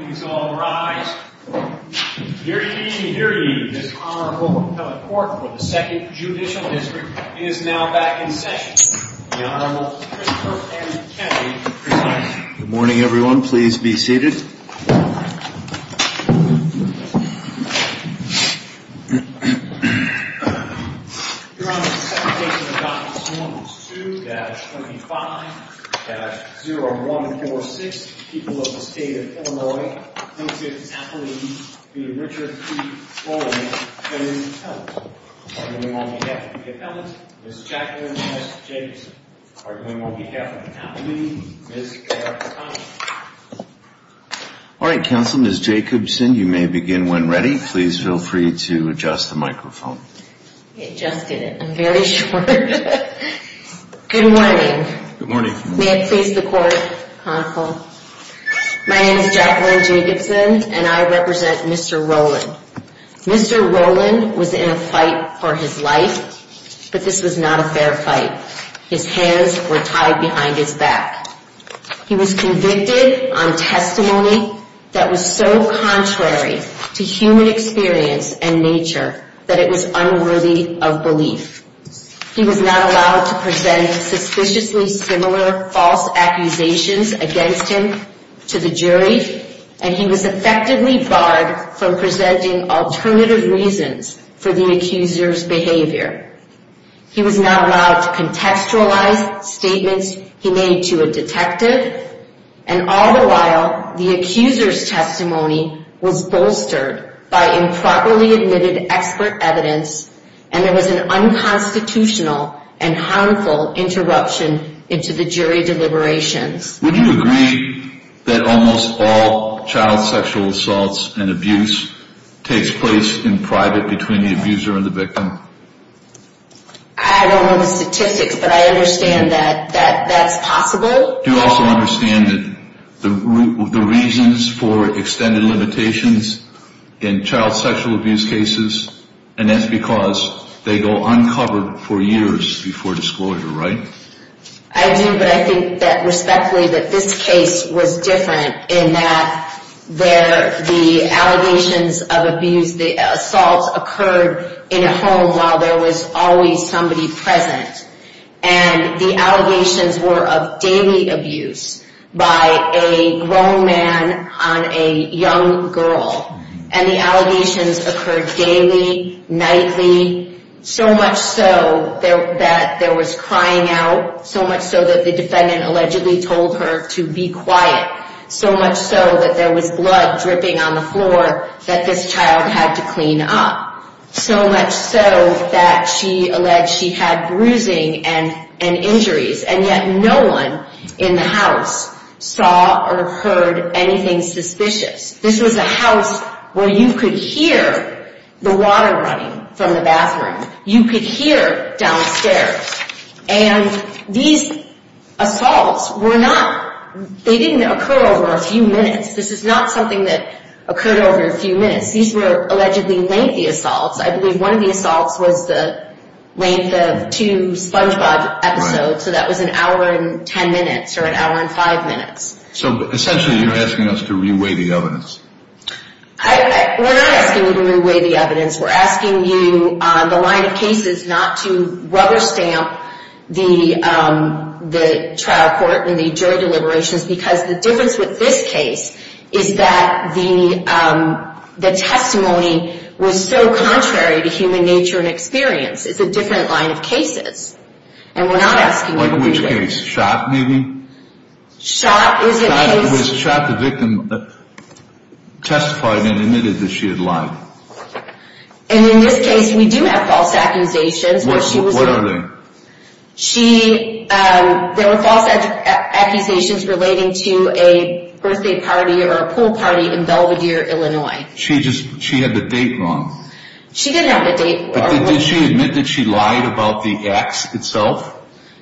Good morning, everyone. Please be seated. You're on the second page of the documents. Forms 2-25-0146. People of the State of Illinois, Mrs. Jacqueline B. Richard P. Rowland, and Ms. Helen. Arguing on behalf of Ms. Helen, Ms. Jacqueline S. Jacobson. Arguing on behalf of Ms. Jacqueline, Ms. Karen McConaughey. All right, counsel, Ms. Jacobson, you may begin when ready. Please feel free to adjust the microphone. Adjusted it. I'm very short. Good morning. Good morning. May it please the court, counsel. My name is Jacqueline Jacobson, and I represent Mr. Rowland. Mr. Rowland was in a fight for his life, but this was not a fair fight. His hands were tied behind his back. He was convicted on testimony that was so contrary to human experience and nature that it was unworthy of belief. He was not allowed to present suspiciously similar false accusations against him to the jury, and he was effectively barred from presenting alternative reasons for the accuser's behavior. He was not allowed to contextualize statements he made to a detective, and all the while, the accuser's testimony was bolstered by improperly admitted expert evidence, and there was an unconstitutional and harmful interruption into the jury deliberations. Would you agree that almost all child sexual assaults and abuse takes place in private between the abuser and the victim? I don't know the statistics, but I understand that that's possible. You also understand that the reasons for extended limitations in child sexual abuse cases, and that's because they go uncovered for years before disclosure, right? I do, but I think that respectfully that this case was different in that the allegations of abuse, the assaults occurred in a home while there was always somebody present, and the allegations were of daily abuse by a grown man on a young girl, and the allegations occurred daily, nightly, so much so that there was crying out, so much so that the defendant allegedly told her to be quiet, so much so that there was blood dripping on the floor that this child had to clean up, so much so that she alleged she had bruising and injuries, and yet no one in the house saw or heard anything suspicious. This was a house where you could hear the water running from the bathroom. You could hear downstairs, and these assaults were not... They didn't occur over a few minutes. This is not something that occurred over a few minutes. These were allegedly lengthy assaults. I believe one of the assaults was the length of two SpongeBob episodes, so that was an hour and ten minutes or an hour and five minutes. So essentially you're asking us to re-weigh the evidence. We're not asking you to re-weigh the evidence. We're asking you on the line of cases not to rubber-stamp the trial court and the jury deliberations because the difference with this case is that the testimony was so contrary to human nature and experience. It's a different line of cases, and we're not asking you to re-weigh it. Like which case? Shot, maybe? Shot is a case... Shot is if the victim testified and admitted that she had lied. And in this case, we do have false accusations. What are they? There were false accusations relating to a birthday party or a pool party in Belvidere, Illinois. She had the date wrong. She didn't have the date wrong. Did she admit that she lied about the acts itself?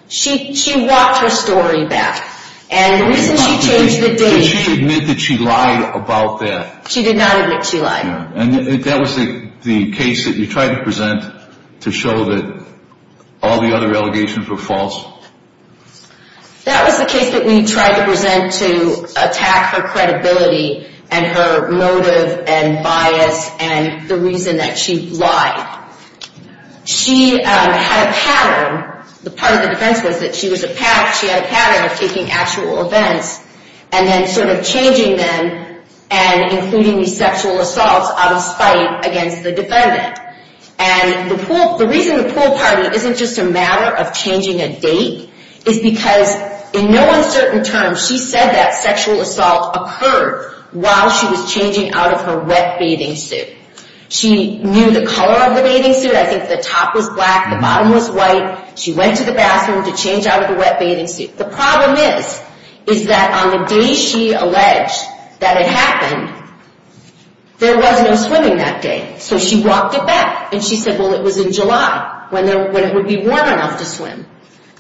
She walked her story back. And the reason she changed the date... Did she admit that she lied about that? She did not admit she lied. And that was the case that you tried to present to show that all the other allegations were false? That was the case that we tried to present to attack her credibility and her motive and bias and the reason that she lied. She had a pattern. The part of the defense was that she was a pack. She had a pattern of taking actual events and then sort of changing them and including these sexual assaults out of spite against the defendant. And the reason the pool party isn't just a matter of changing a date is because in no uncertain terms she said that sexual assault occurred while she was changing out of her wet bathing suit. She knew the color of the bathing suit. I think the top was black, the bottom was white. She went to the bathroom to change out of the wet bathing suit. The problem is, is that on the day she alleged that it happened, there was no swimming that day. So she walked it back. And she said, well, it was in July when it would be warm enough to swim.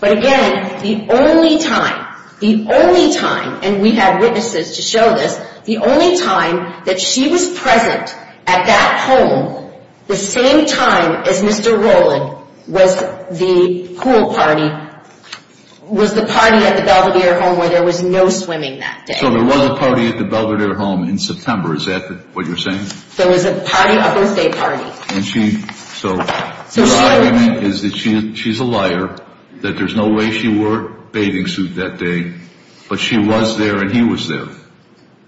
But again, the only time, the only time, and we had witnesses to show this, the only time that she was present at that home the same time as Mr. Rowland was the pool party, was the party at the Belvedere home where there was no swimming that day. So there was a party at the Belvedere home in September. Is that what you're saying? There was a party, a birthday party. And she, so, her argument is that she's a liar, that there's no way she wore a bathing suit that day, but she was there and he was there.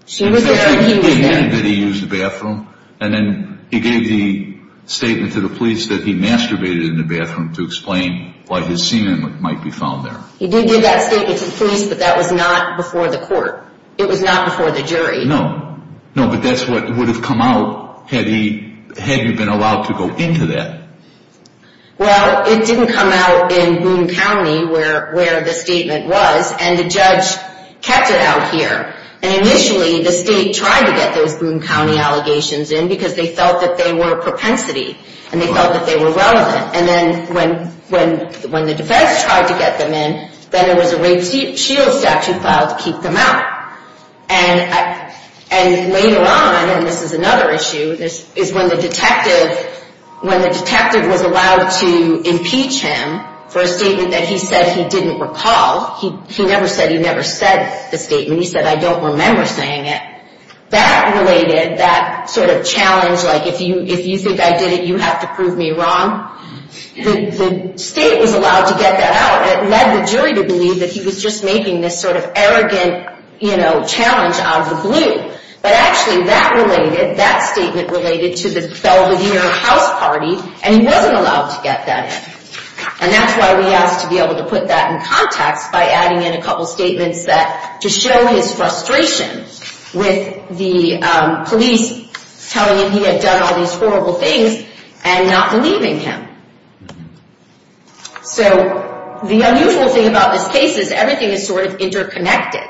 She was there and he was there. And that he used the bathroom. And then he gave the statement to the police that he masturbated in the bathroom to explain why his semen might be found there. He did give that statement to the police, but that was not before the court. It was not before the jury. No, but that's what would have come out had he been allowed to go into that. Well, it didn't come out in Boone County where the statement was, and the judge kept it out here. And initially, the state tried to get those Boone County allegations in because they felt that they were a propensity, and they felt that they were relevant. And then when the defense tried to get them in, then there was a rape shield statute filed to keep them out. And later on, and this is another issue, is when the detective was allowed to impeach him for a statement that he said he didn't recall. He never said he never said the statement. He said, I don't remember saying it. That related, that sort of challenge, like if you think I did it, you have to prove me wrong. The state was allowed to get that out. It led the jury to believe that he was just making this sort of arrogant challenge out of the blue. But actually, that related, that statement related to the Belvedere House Party, and he wasn't allowed to get that in. And that's why we asked to be able to put that in context by adding in a couple statements that, to show his frustration with the police telling him he had done all these horrible things and not believing him. So the unusual thing about this case is everything is sort of interconnected.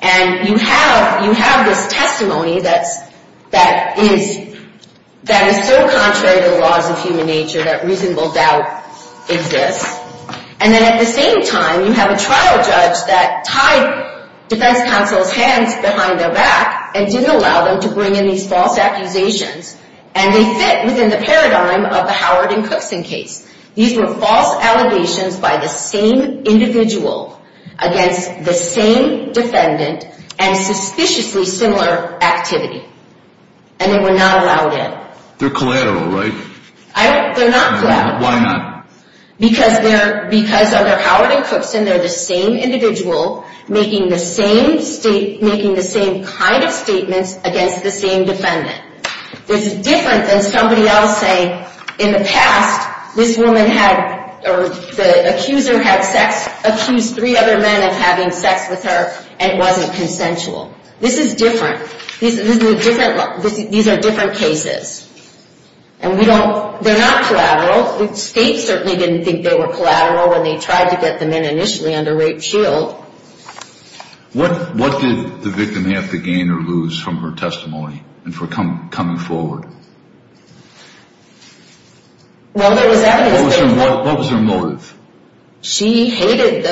And you have this testimony that is so contrary to the laws of human nature that reasonable doubt exists. And then at the same time, you have a trial judge that tied defense counsel's hands behind their back and didn't allow them to bring in these false accusations. And they fit within the paradigm of the Howard and Cookson case. These were false allegations by the same individual against the same defendant and suspiciously similar activity. And they were not allowed in. They're collateral, right? They're not collateral. Why not? Because under Howard and Cookson, they're the same individual making the same kind of statements against the same defendant. This is different than somebody else saying, in the past, this woman had, or the accuser had sex, accused three other men of having sex with her and it wasn't consensual. This is different. These are different cases. And we don't, they're not collateral. States certainly didn't think they were collateral when they tried to get the men initially under rape shield. What did the victim have to gain or lose from her testimony and from coming forward? Well, there was evidence. What was her motive? She hated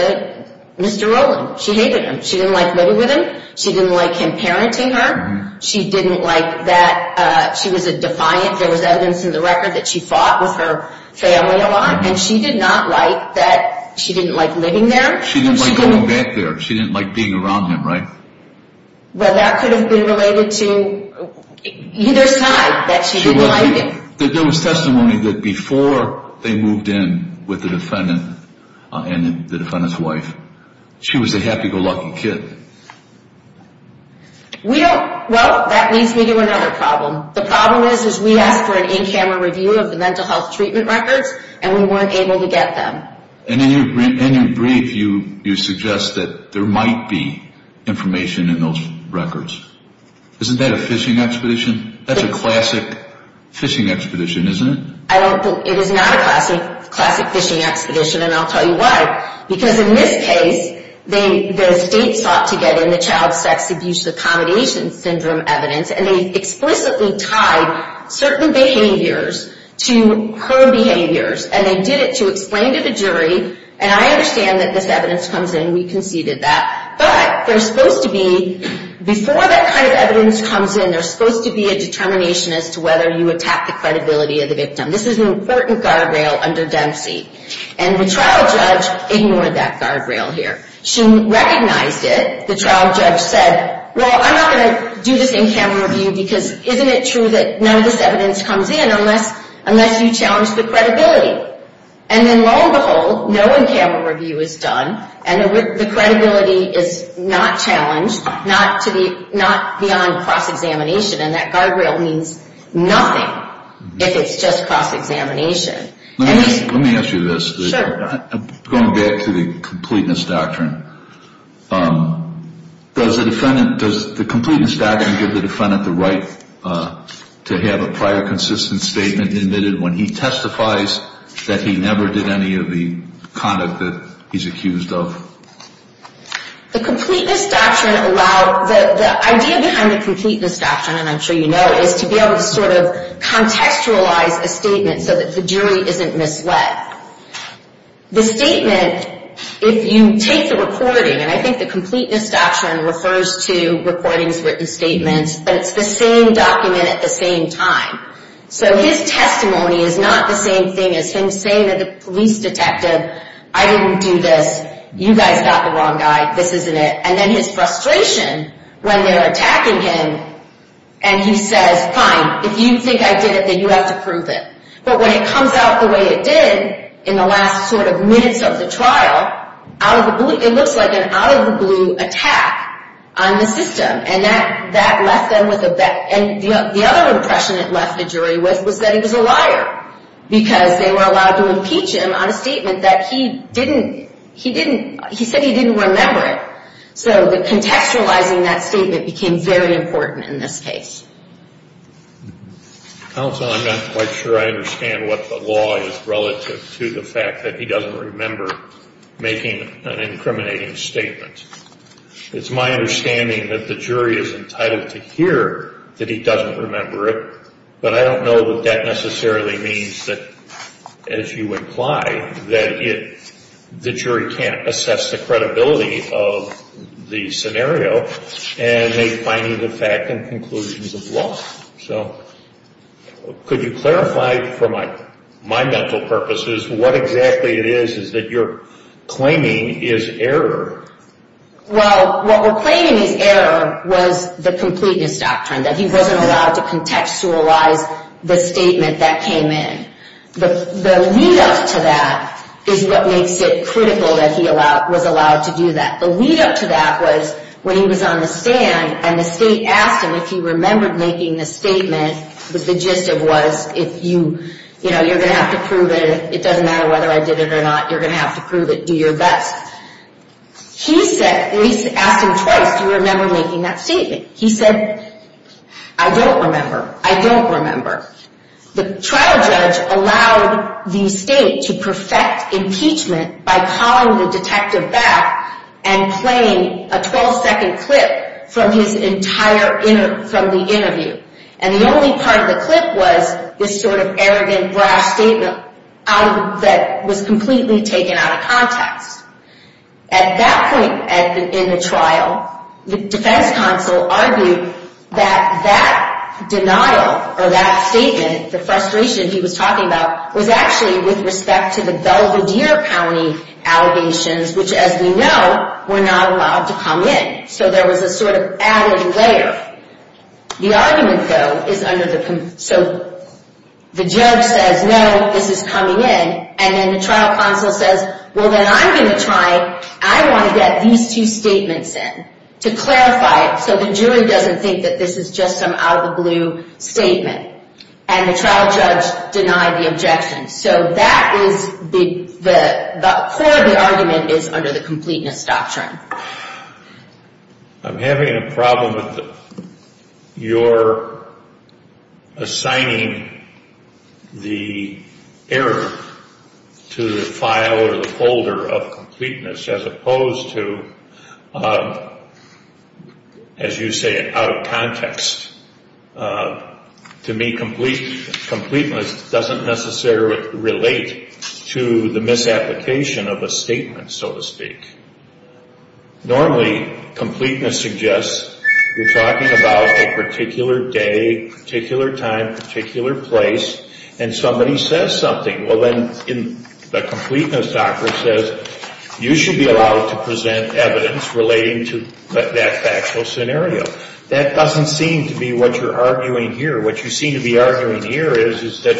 Mr. Rowland. She hated him. She didn't like living with him. She didn't like him parenting her. She didn't like that she was a defiant. There was evidence in the record that she fought with her family a lot, and she did not like that she didn't like living there. She didn't like going back there. She didn't like being around him, right? Well, that could have been related to either side, that she didn't like him. There was testimony that before they moved in with the defendant and the defendant's wife, she was a happy-go-lucky kid. We don't, well, that leads me to another problem. The problem is we asked for an in-camera review of the mental health treatment records, and we weren't able to get them. And in your brief, you suggest that there might be information in those records. Isn't that a phishing expedition? That's a classic phishing expedition, isn't it? It is not a classic phishing expedition, and I'll tell you why. Because in this case, the state sought to get in the child sex abuse accommodation syndrome evidence, and they explicitly tied certain behaviors to her behaviors, and they did it to explain to the jury, and I understand that this evidence comes in. We conceded that. But there's supposed to be, before that kind of evidence comes in, there's supposed to be a determination as to whether you attack the credibility of the victim. This is an important guardrail under Dempsey, and the trial judge ignored that guardrail here. She recognized it. The trial judge said, well, I'm not going to do this in-camera review because isn't it true that none of this evidence comes in unless you challenge the credibility? And then lo and behold, no in-camera review is done, and the credibility is not challenged, not beyond cross-examination, and that guardrail means nothing if it's just cross-examination. Let me ask you this. Sure. Going back to the completeness doctrine, does the completeness doctrine give the defendant the right to have a prior consistent statement admitted when he testifies that he never did any of the conduct that he's accused of? The idea behind the completeness doctrine, and I'm sure you know, is to be able to sort of contextualize a statement so that the jury isn't misled. The statement, if you take the recording, and I think the completeness doctrine refers to recordings, written statements, but it's the same document at the same time. So his testimony is not the same thing as him saying to the police detective, I didn't do this, you guys got the wrong guy, this isn't it. And then his frustration when they're attacking him, and he says, fine, if you think I did it, then you have to prove it. But when it comes out the way it did in the last sort of minutes of the trial, it looks like an out-of-the-blue attack on the system, and that left them with a bet. And the other impression it left the jury with was that he was a liar because they were allowed to impeach him on a statement that he didn't, he said he didn't remember it. So the contextualizing that statement became very important in this case. Counsel, I'm not quite sure I understand what the law is relative to the fact that he doesn't remember making an incriminating statement. It's my understanding that the jury is entitled to hear that he doesn't remember it, but I don't know that that necessarily means that, as you imply, that the jury can't assess the credibility of the scenario and make finding the fact and conclusions of law. So could you clarify for my mental purposes what exactly it is that you're claiming is error? Well, what we're claiming is error was the completeness doctrine, that he wasn't allowed to contextualize the statement that came in. The lead-up to that is what makes it critical that he was allowed to do that. The lead-up to that was when he was on the stand and the state asked him if he remembered making the statement. The gist of it was, you know, you're going to have to prove it. It doesn't matter whether I did it or not. You're going to have to prove it. Do your best. He said, we asked him twice, do you remember making that statement? He said, I don't remember. I don't remember. The trial judge allowed the state to perfect impeachment by calling the detective back and playing a 12-second clip from his entire interview. And the only part of the clip was this sort of arrogant, brash statement that was completely taken out of context. At that point in the trial, the defense counsel argued that that denial or that statement, the frustration he was talking about, was actually with respect to the Belvedere County allegations, which, as we know, were not allowed to come in. So there was a sort of added layer. The argument, though, is under the – so the judge says, no, this is coming in. And then the trial counsel says, well, then I'm going to try. I want to get these two statements in to clarify it so the jury doesn't think that this is just some out-of-the-blue statement. And the trial judge denied the objection. So that is the – the core of the argument is under the completeness doctrine. I'm having a problem with your assigning the error to the file or the folder of completeness as opposed to, as you say, out of context. To me, completeness doesn't necessarily relate to the misapplication of a statement, so to speak. Normally, completeness suggests you're talking about a particular day, particular time, particular place, and somebody says something. Well, then the completeness doctrine says you should be allowed to present evidence relating to that factual scenario. That doesn't seem to be what you're arguing here. What you seem to be arguing here is, is that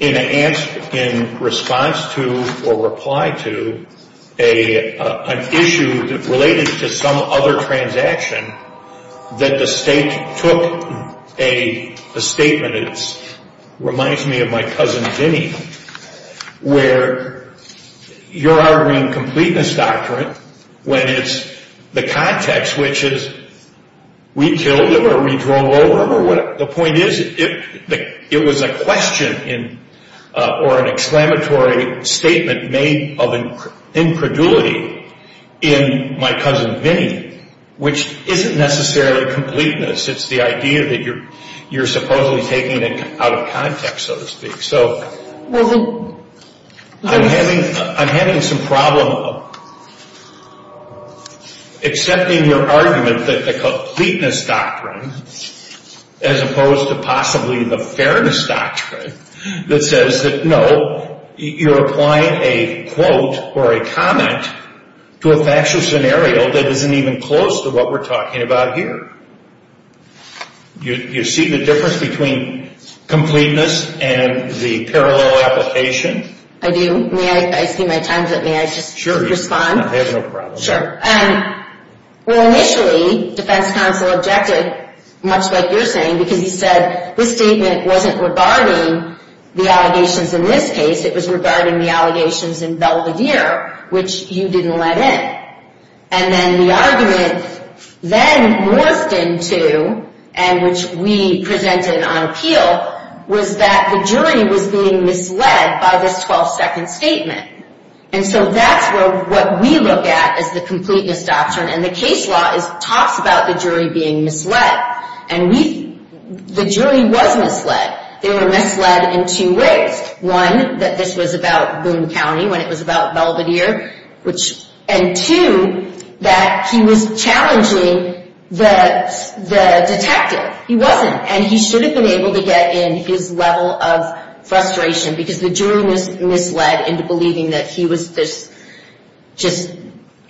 in response to or reply to an issue related to some other transaction that the state took a statement – it reminds me of my cousin Vinnie – where you're arguing completeness doctrine when it's the context, which is we killed him or we drove over him or whatever. The point is it was a question or an exclamatory statement made of incredulity in my cousin Vinnie, which isn't necessarily completeness. It's the idea that you're supposedly taking it out of context, so to speak. So I'm having some problem accepting your argument that the completeness doctrine, as opposed to possibly the fairness doctrine, that says that, no, you're applying a quote or a comment to a factual scenario that isn't even close to what we're talking about here. You see the difference between completeness and the parallel application? I do. May I – I see my time's up. May I just respond? Sure. You have no problem. Sure. Well, initially, defense counsel objected, much like you're saying, because he said this statement wasn't regarding the allegations in this case. It was regarding the allegations in Belvedere, which you didn't let in. And then the argument then morphed into, and which we presented on appeal, was that the jury was being misled by this 12-second statement. And so that's what we look at as the completeness doctrine, and the case law talks about the jury being misled. And we – the jury was misled. They were misled in two ways. One, that this was about Boone County when it was about Belvedere, which – and two, that he was challenging the detective. He wasn't. And he should have been able to get in his level of frustration, because the jury was misled into believing that he was just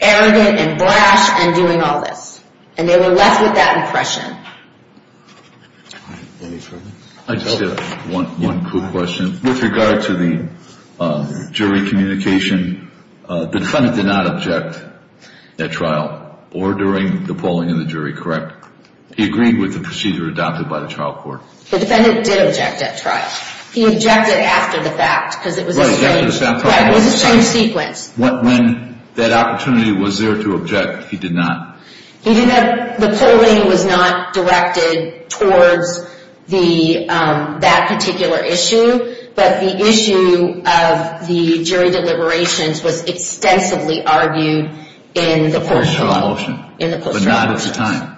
arrogant and brash and doing all this. And they were left with that impression. Any further? I just have one quick question. With regard to the jury communication, the defendant did not object at trial or during the polling of the jury, correct? He agreed with the procedure adopted by the trial court. The defendant did object at trial. He objected after the fact, because it was a strange sequence. When that opportunity was there to object, he did not? He did not. The polling was not directed towards that particular issue, but the issue of the jury deliberations was extensively argued in the post-trial process. But not at the time?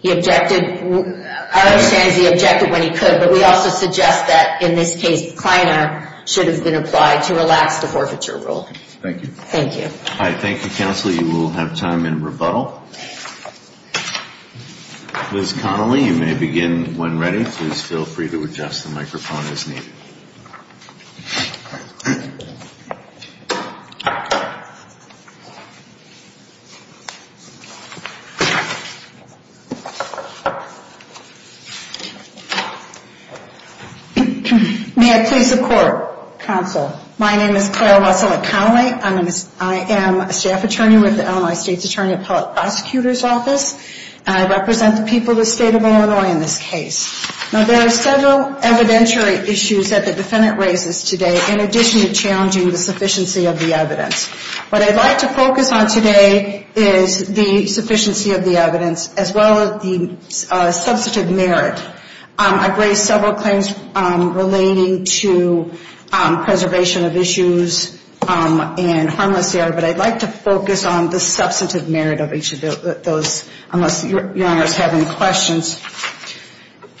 He objected. I understand he objected when he could, but we also suggest that, in this case, Kleiner should have been applied to relax the forfeiture rule. Thank you. Thank you. All right, thank you, counsel. You will have time in rebuttal. Ms. Connelly, you may begin when ready. Please feel free to adjust the microphone as needed. May I please support, counsel? My name is Claire Russell Connelly. I am a staff attorney with the Illinois State's Attorney Prosecutor's Office, and I represent the people of the state of Illinois in this case. Now, there are several evidentiary issues that the defendant raises today, in addition to challenging the sufficiency of the evidence. What I'd like to focus on today is the sufficiency of the evidence, as well as the substantive merit. I've raised several claims relating to preservation of issues and harmless error, but I'd like to focus on the substantive merit of each of those, unless Your Honor is having questions.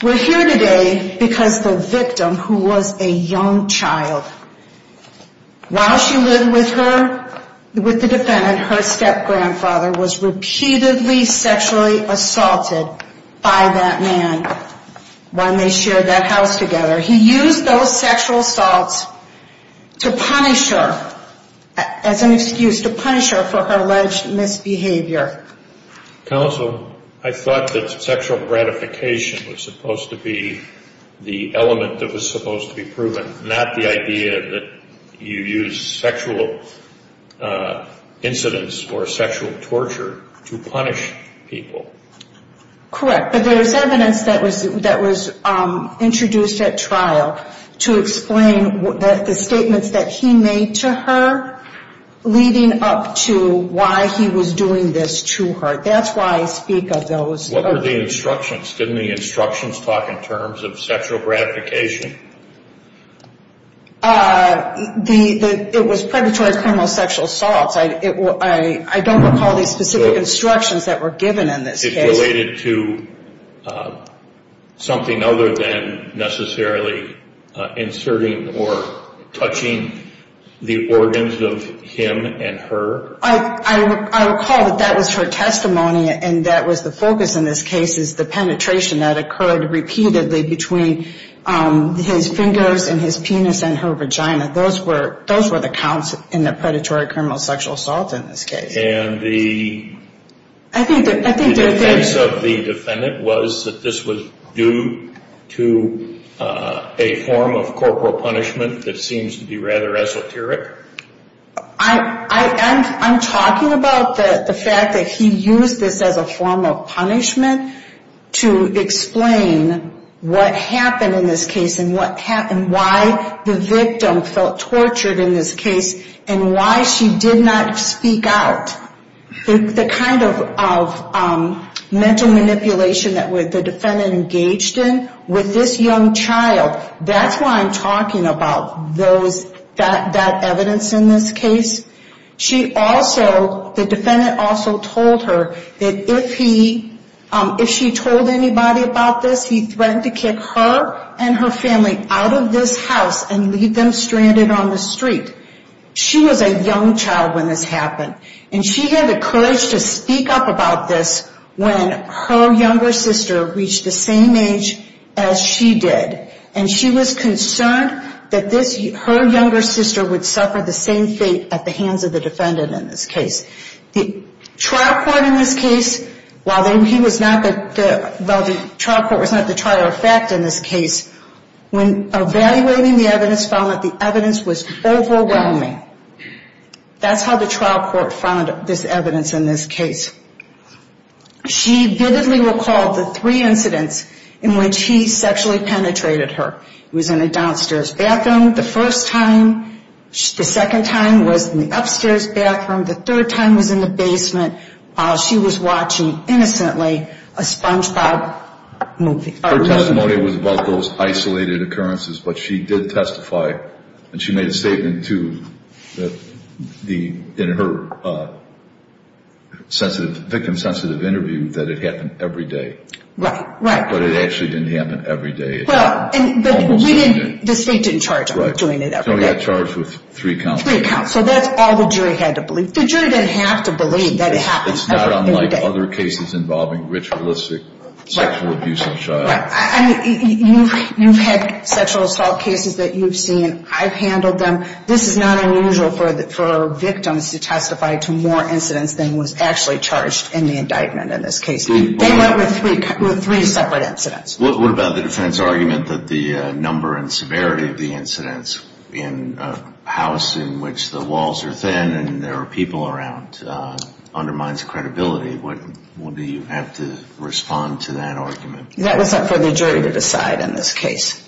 We're here today because the victim, who was a young child, while she lived with her, with the defendant, and her step-grandfather was repeatedly sexually assaulted by that man when they shared that house together. He used those sexual assaults to punish her, as an excuse, to punish her for her alleged misbehavior. Counsel, I thought that sexual gratification was supposed to be the element that was supposed to be proven, not the idea that you use sexual incidents or sexual torture to punish people. Correct, but there's evidence that was introduced at trial to explain the statements that he made to her, leading up to why he was doing this to her. That's why I speak of those. What were the instructions? What were the instructions taught in terms of sexual gratification? It was predatory criminal sexual assaults. I don't recall the specific instructions that were given in this case. It's related to something other than necessarily inserting or touching the organs of him and her? I recall that that was her testimony, and that was the focus in this case is the penetration that occurred repeatedly between his fingers and his penis and her vagina. Those were the counts in the predatory criminal sexual assault in this case. And the defense of the defendant was that this was due to a form of corporal punishment that seems to be rather esoteric? I'm talking about the fact that he used this as a form of punishment to explain what happened in this case and why the victim felt tortured in this case and why she did not speak out. The kind of mental manipulation that the defendant engaged in with this young child, that's why I'm talking about that evidence in this case. The defendant also told her that if she told anybody about this, he threatened to kick her and her family out of this house and leave them stranded on the street. She was a young child when this happened, and she had the courage to speak up about this when her younger sister reached the same age as she did, and she was concerned that her younger sister would suffer the same fate at the hands of the defendant in this case. The trial court in this case, while the trial court was not the trial of fact in this case, when evaluating the evidence found that the evidence was overwhelming. That's how the trial court found this evidence in this case. She vividly recalled the three incidents in which he sexually penetrated her. He was in a downstairs bathroom the first time. The second time was in the upstairs bathroom. The third time was in the basement while she was watching innocently a SpongeBob movie. Her testimony was about those isolated occurrences, but she did testify, and she made a statement, too, in her victim-sensitive interview that it happened every day. Right, right. But it actually didn't happen every day. Well, the state didn't charge him with doing it every day. Right, so he got charged with three counts. Three counts, so that's all the jury had to believe. The jury didn't have to believe that it happened every day. It's not unlike other cases involving ritualistic sexual abuse of child. You've had sexual assault cases that you've seen. I've handled them. This is not unusual for victims to testify to more incidents than was actually charged in the indictment in this case. They went with three separate incidents. What about the defense argument that the number and severity of the incidents in a house in which the walls are thin and there are people around undermines credibility? Do you have to respond to that argument? That was up for the jury to decide in this case.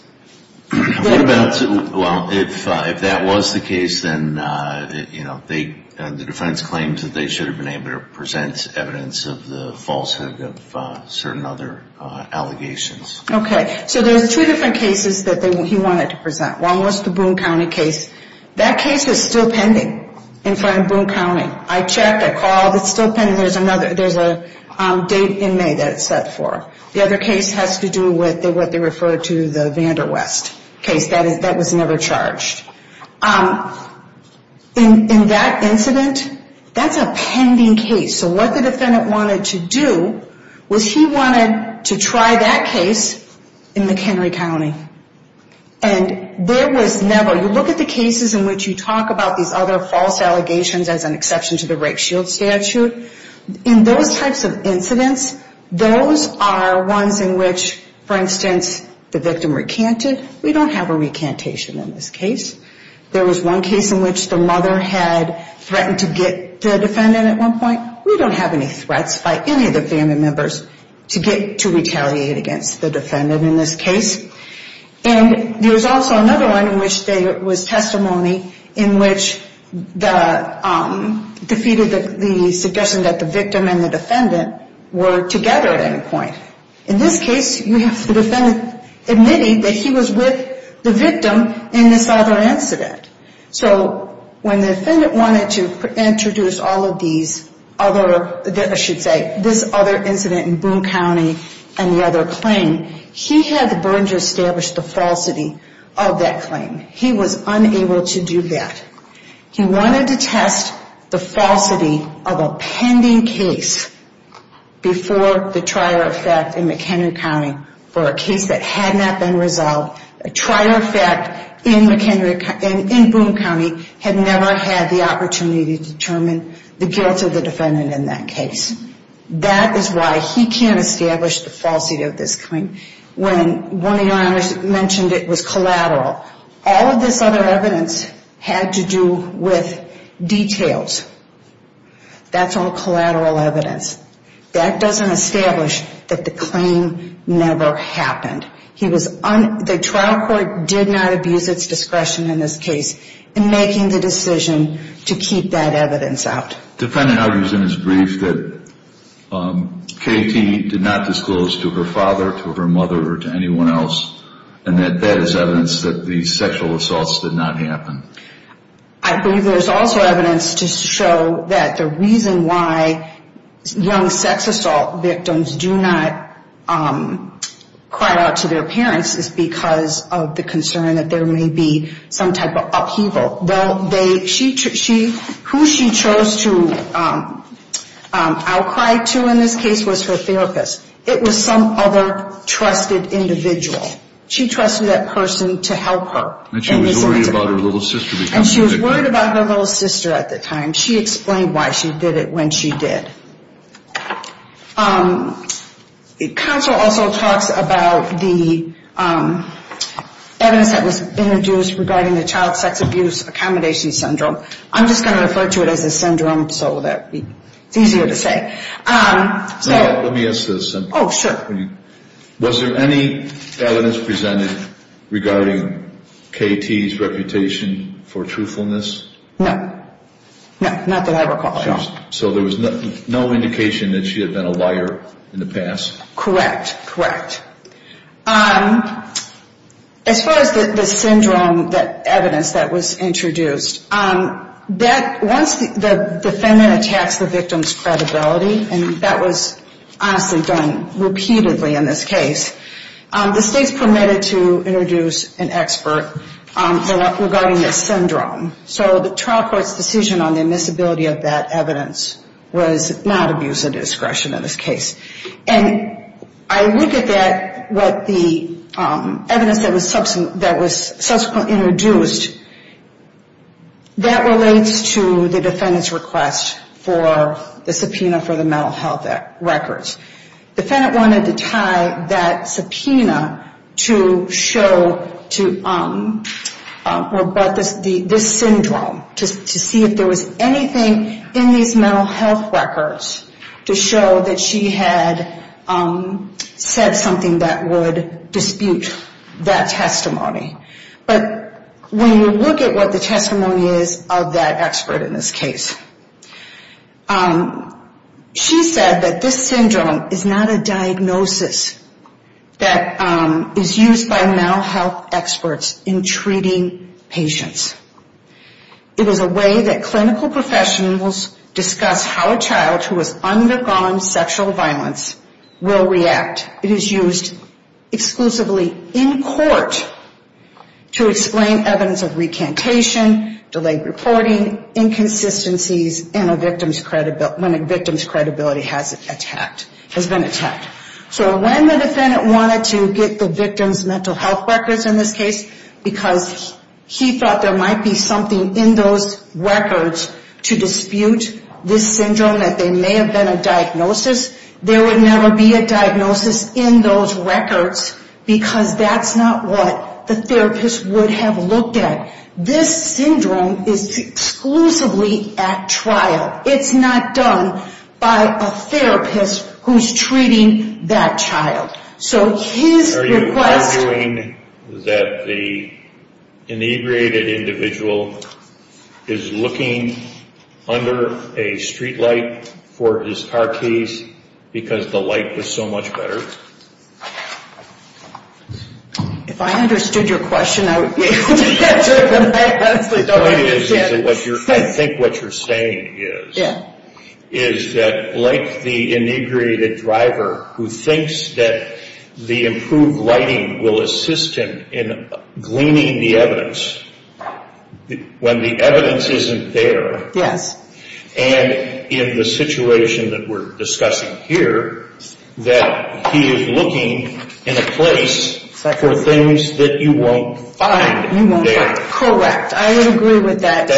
Well, if that was the case, then the defense claims that they should have been able to present evidence of the falsehood of certain other allegations. Okay, so there's two different cases that he wanted to present. One was the Boone County case. That case is still pending in front of Boone County. I checked. I called. It's still pending. There's a date in May that it's set for. The other case has to do with what they refer to as the Vander West case. That was never charged. In that incident, that's a pending case. So what the defendant wanted to do was he wanted to try that case in McHenry County. And there was never, you look at the cases in which you talk about these other false allegations as an exception to the rape shield statute. In those types of incidents, those are ones in which, for instance, the victim recanted. We don't have a recantation in this case. There was one case in which the mother had threatened to get the defendant at one point. We don't have any threats by any of the family members to get to retaliate against the defendant in this case. And there was also another one in which there was testimony in which the, defeated the suggestion that the victim and the defendant were together at any point. In this case, we have the defendant admitting that he was with the victim in this other incident. So when the defendant wanted to introduce all of these other, I should say, this other incident in Boone County and the other claim, he had the burden to establish the falsity of that claim. He was unable to do that. He wanted to test the falsity of a pending case before the trial of fact in McHenry County for a case that had not been resolved. A trial of fact in McHenry, in Boone County, had never had the opportunity to determine the guilt of the defendant in that case. That is why he can't establish the falsity of this claim. When one of your honors mentioned it was collateral, all of this other evidence had to do with details. That's all collateral evidence. That doesn't establish that the claim never happened. He was, the trial court did not abuse its discretion in this case in making the decision to keep that evidence out. The defendant argues in his brief that Katie did not disclose to her father, to her mother, or to anyone else, and that that is evidence that the sexual assaults did not happen. I believe there's also evidence to show that the reason why young sex assault victims do not cry out to their parents is because of the concern that there may be some type of upheaval. Who she chose to outcry to in this case was her therapist. It was some other trusted individual. She trusted that person to help her. And she was worried about her little sister. And she was worried about her little sister at the time. She explained why she did it when she did. The counsel also talks about the evidence that was introduced regarding the child sex abuse accommodation syndrome. I'm just going to refer to it as a syndrome so that it's easier to say. Let me ask this. Oh, sure. Was there any evidence presented regarding Katie's reputation for truthfulness? No. No, not that I recall at all. So there was no indication that she had been a liar in the past? Correct. Correct. As far as the syndrome evidence that was introduced, once the defendant attacks the victim's credibility, and that was honestly done repeatedly in this case, the states permitted to introduce an expert regarding this syndrome. So the trial court's decision on the admissibility of that evidence was not abuse of discretion in this case. And I look at that, what the evidence that was subsequently introduced, that relates to the defendant's request for the subpoena for the mental health records. The defendant wanted to tie that subpoena to show this syndrome, to see if there was anything in these mental health records to show that she had said something that would dispute that testimony. But when you look at what the testimony is of that expert in this case, she said that this syndrome is not a diagnosis that is used by mental health experts in treating patients. It is a way that clinical professionals discuss how a child who has undergone sexual violence will react. It is used exclusively in court to explain evidence of recantation, delayed reporting, inconsistencies, when a victim's credibility has been attacked. So when the defendant wanted to get the victim's mental health records in this case, because he thought there might be something in those records to dispute this syndrome, that there may have been a diagnosis, there would never be a diagnosis in those records, because that's not what the therapist would have looked at. This syndrome is exclusively at trial. It's not done by a therapist who's treating that child. So his request... Are you arguing that the inebriated individual is looking under a streetlight for his car keys because the light was so much better? If I understood your question, I would be able to answer it, but I honestly don't understand. I think what you're saying is that like the inebriated driver who thinks that the improved lighting will assist him in gleaning the evidence, when the evidence isn't there, and in the situation that we're discussing here, that he is looking in a place for things that you won't find there. Correct. I would agree with that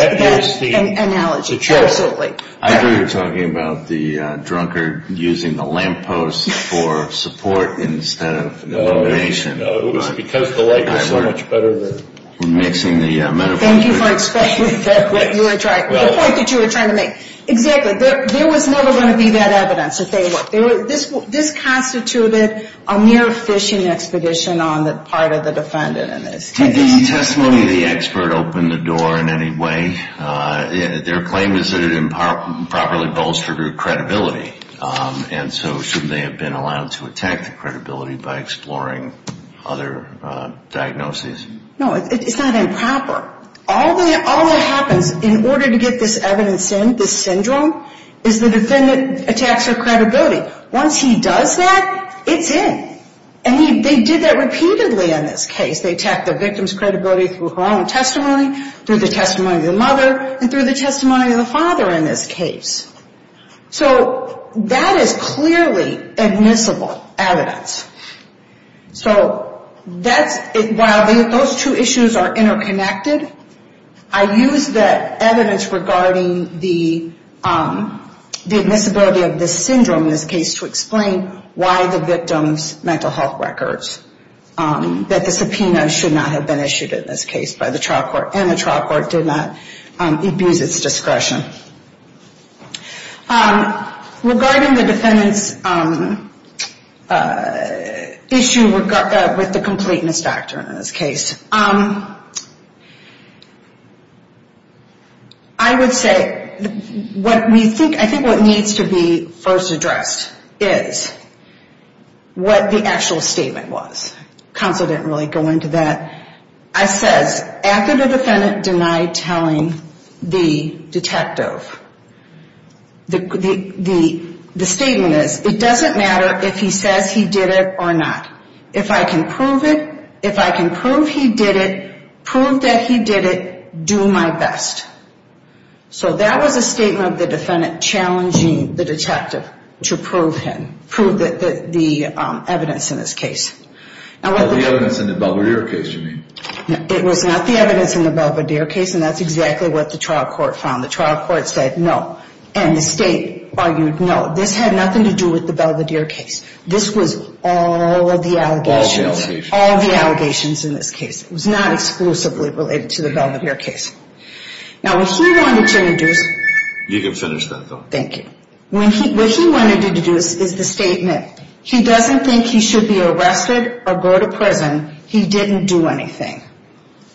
analogy, absolutely. I thought you were talking about the drunkard using the lamppost for support instead of illumination. No, it was because the light was so much better. Thank you for explaining the point that you were trying to make. Exactly. There was never going to be that evidence. This constituted a mere phishing expedition on the part of the defendant. Did this testimony of the expert open the door in any way? Their claim is that it improperly bolstered her credibility, and so shouldn't they have been allowed to attack the credibility by exploring other diagnoses? No, it's not improper. All that happens in order to get this evidence in, this syndrome, is the defendant attacks her credibility. Once he does that, it's in, and they did that repeatedly in this case. They attacked the victim's credibility through her own testimony, through the testimony of the mother, and through the testimony of the father in this case. So that is clearly admissible evidence. So while those two issues are interconnected, I use that evidence regarding the admissibility of this syndrome in this case to explain why the victim's mental health records, that the subpoena should not have been issued in this case by the trial court, and the trial court did not abuse its discretion. Regarding the defendant's issue with the completeness factor in this case, I would say, I think what needs to be first addressed is what the actual statement was. Counsel didn't really go into that. The statement is, it doesn't matter if he says he did it or not. If I can prove it, if I can prove he did it, prove that he did it, do my best. So that was a statement of the defendant challenging the detective to prove him, prove the evidence in this case. Not the evidence in the Belvedere case, you mean? It was not the evidence in the Belvedere case, and that's exactly what the trial court found. The trial court said no, and the state argued no. This had nothing to do with the Belvedere case. This was all the allegations, all the allegations in this case. It was not exclusively related to the Belvedere case. You can finish that, though. What he wanted to deduce is the statement, he doesn't think he should be arrested or go to prison, he didn't do anything.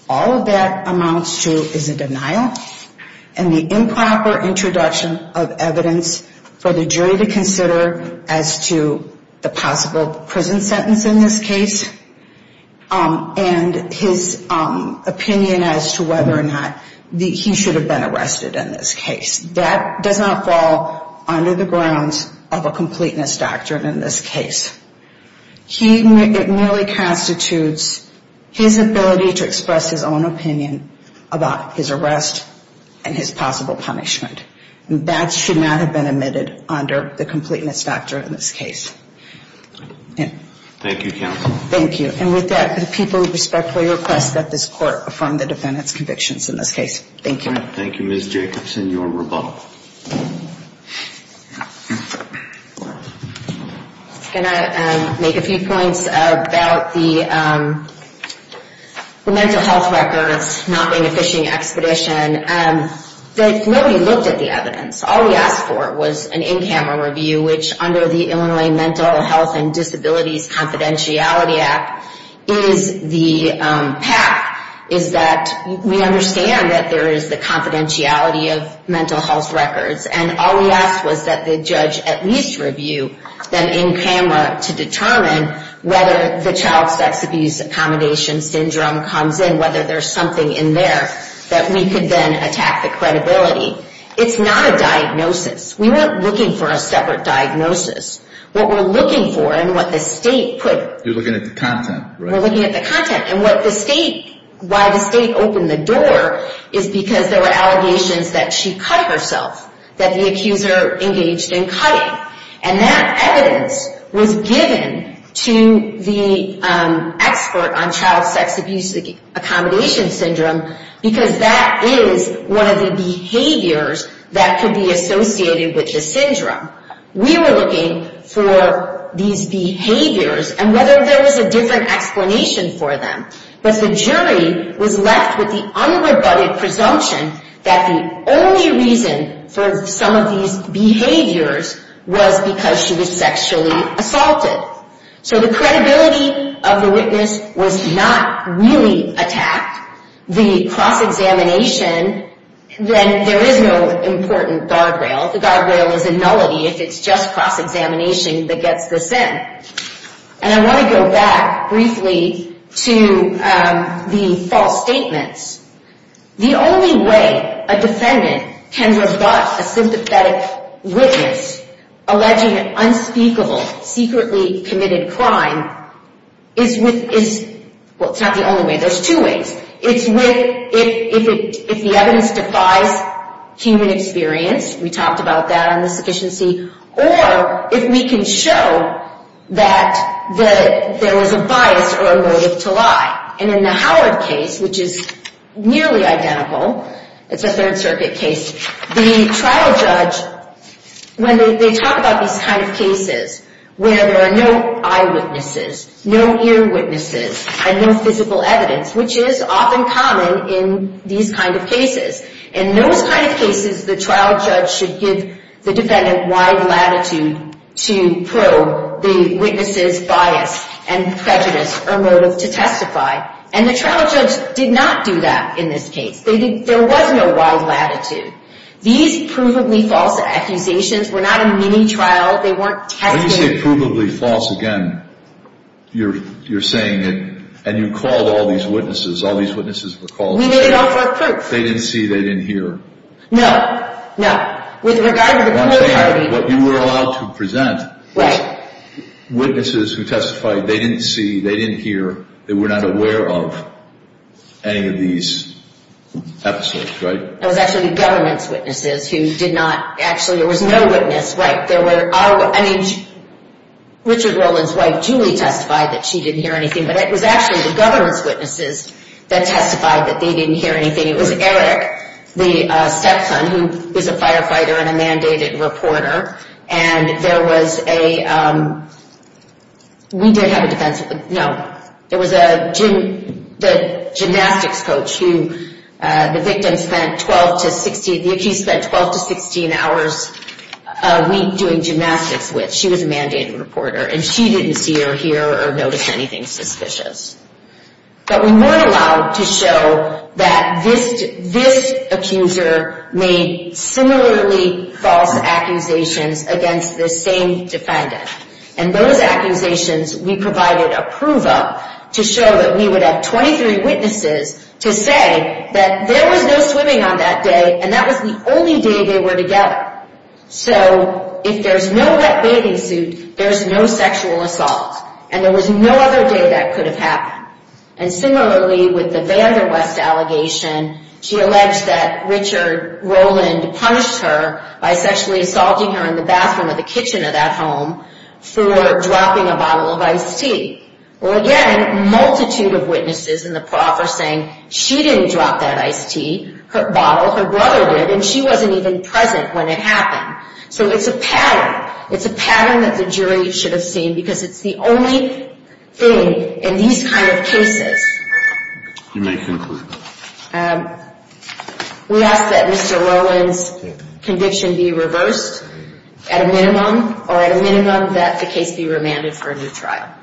All of that amounts to is a denial and the improper introduction of evidence for the jury to consider as to the possible prison sentence in this case. And his opinion as to whether or not he should have been arrested in this case. That does not fall under the grounds of a completeness doctrine in this case. It merely constitutes his ability to express his own opinion about his arrest and his possible punishment. That should not have been admitted under the completeness doctrine in this case. Thank you, counsel. Thank you, Ms. Jacobson, your rebuttal. Can I make a few points about the mental health records, not being a fishing expedition? Nobody looked at the evidence. What we did under the Mental Health and Disabilities Confidentiality Act is the PAC, is that we understand that there is the confidentiality of mental health records. And all we asked was that the judge at least review them in camera to determine whether the child sex abuse accommodation syndrome comes in, whether there's something in there that we could then attack the credibility. It's not a diagnosis. We weren't looking for a separate diagnosis. What we're looking for and what the state put. You're looking at the content. We're looking at the content and what the state, why the state opened the door is because there were allegations that she cut herself, that the accuser engaged in cutting. And that evidence was given to the expert on child sex abuse accommodation syndrome, because that is one of the behaviors that could be associated with the syndrome. We were looking for these behaviors and whether there was a different explanation for them. But the jury was left with the unrebutted presumption that the only reason for some of these behaviors was because she was sexually assaulted. So the credibility of the witness was not really attacked. The cross-examination, then there is no important guardrail. The guardrail is a nullity if it's just cross-examination that gets this in. And I want to go back briefly to the false statements. The only way a defendant can rebut a sympathetic witness alleging an unspeakable, secretly committed crime is with, well, it's not the only way. There's two ways. It's with if the evidence defies human experience. We talked about that on the sufficiency. Or if we can show that there was a bias or a motive to lie. And in the Howard case, which is nearly identical, it's a Third Circuit case, the trial judge, when they talk about these kind of cases where there are no eyewitnesses, no earwitnesses, and no physical evidence, which is often common in these kind of cases. In those kind of cases, the trial judge should give the defendant wide latitude to probe the witness's bias and prejudice or motive to testify. And the trial judge did not do that in this case. There was no wide latitude. These provably false accusations were not a mini-trial. They weren't tested. When you say provably false again, you're saying it, and you called all these witnesses. All these witnesses were called. They didn't see. They didn't hear. Witnesses who testified, they didn't see. They didn't hear. They were not aware of any of these episodes, right? It was actually the government's witnesses who did not actually, there was no witness. Richard Roland's wife, Julie, testified that she didn't hear anything. But it was actually the government's witnesses that testified that they didn't hear anything. It was Eric, the stepson, who is a firefighter and a mandated reporter. And there was a, we did have a defense, no. There was a gymnastics coach who, the victim spent 12 to 16, the accused spent 12 to 16 hours a week doing gymnastics with. She was a mandated reporter, and she didn't see or hear or notice anything suspicious. But we weren't allowed to show that this accuser made similarly false accusations against the same defendant. And those accusations, we provided a prove-up to show that we would have 23 witnesses to say that there was no swimming on that day, and that was the only day they were together. So if there's no wet bathing suit, there's no sexual assault. And there was no other day that could have happened. And similarly, with the Vanderwest allegation, she alleged that Richard Roland punished her by sexually assaulting her in the bathroom of the kitchen of that home for dropping a bottle of iced tea. Well, again, a multitude of witnesses in the process saying she didn't drop that iced tea, her bottle, her brother did, and she wasn't even present when it happened. So it's a pattern, it's a pattern that the jury should have seen because it's the only thing in these kind of cases. We ask that Mr. Roland's conviction be reversed at a minimum, or at a minimum that the case be remanded for a new trial.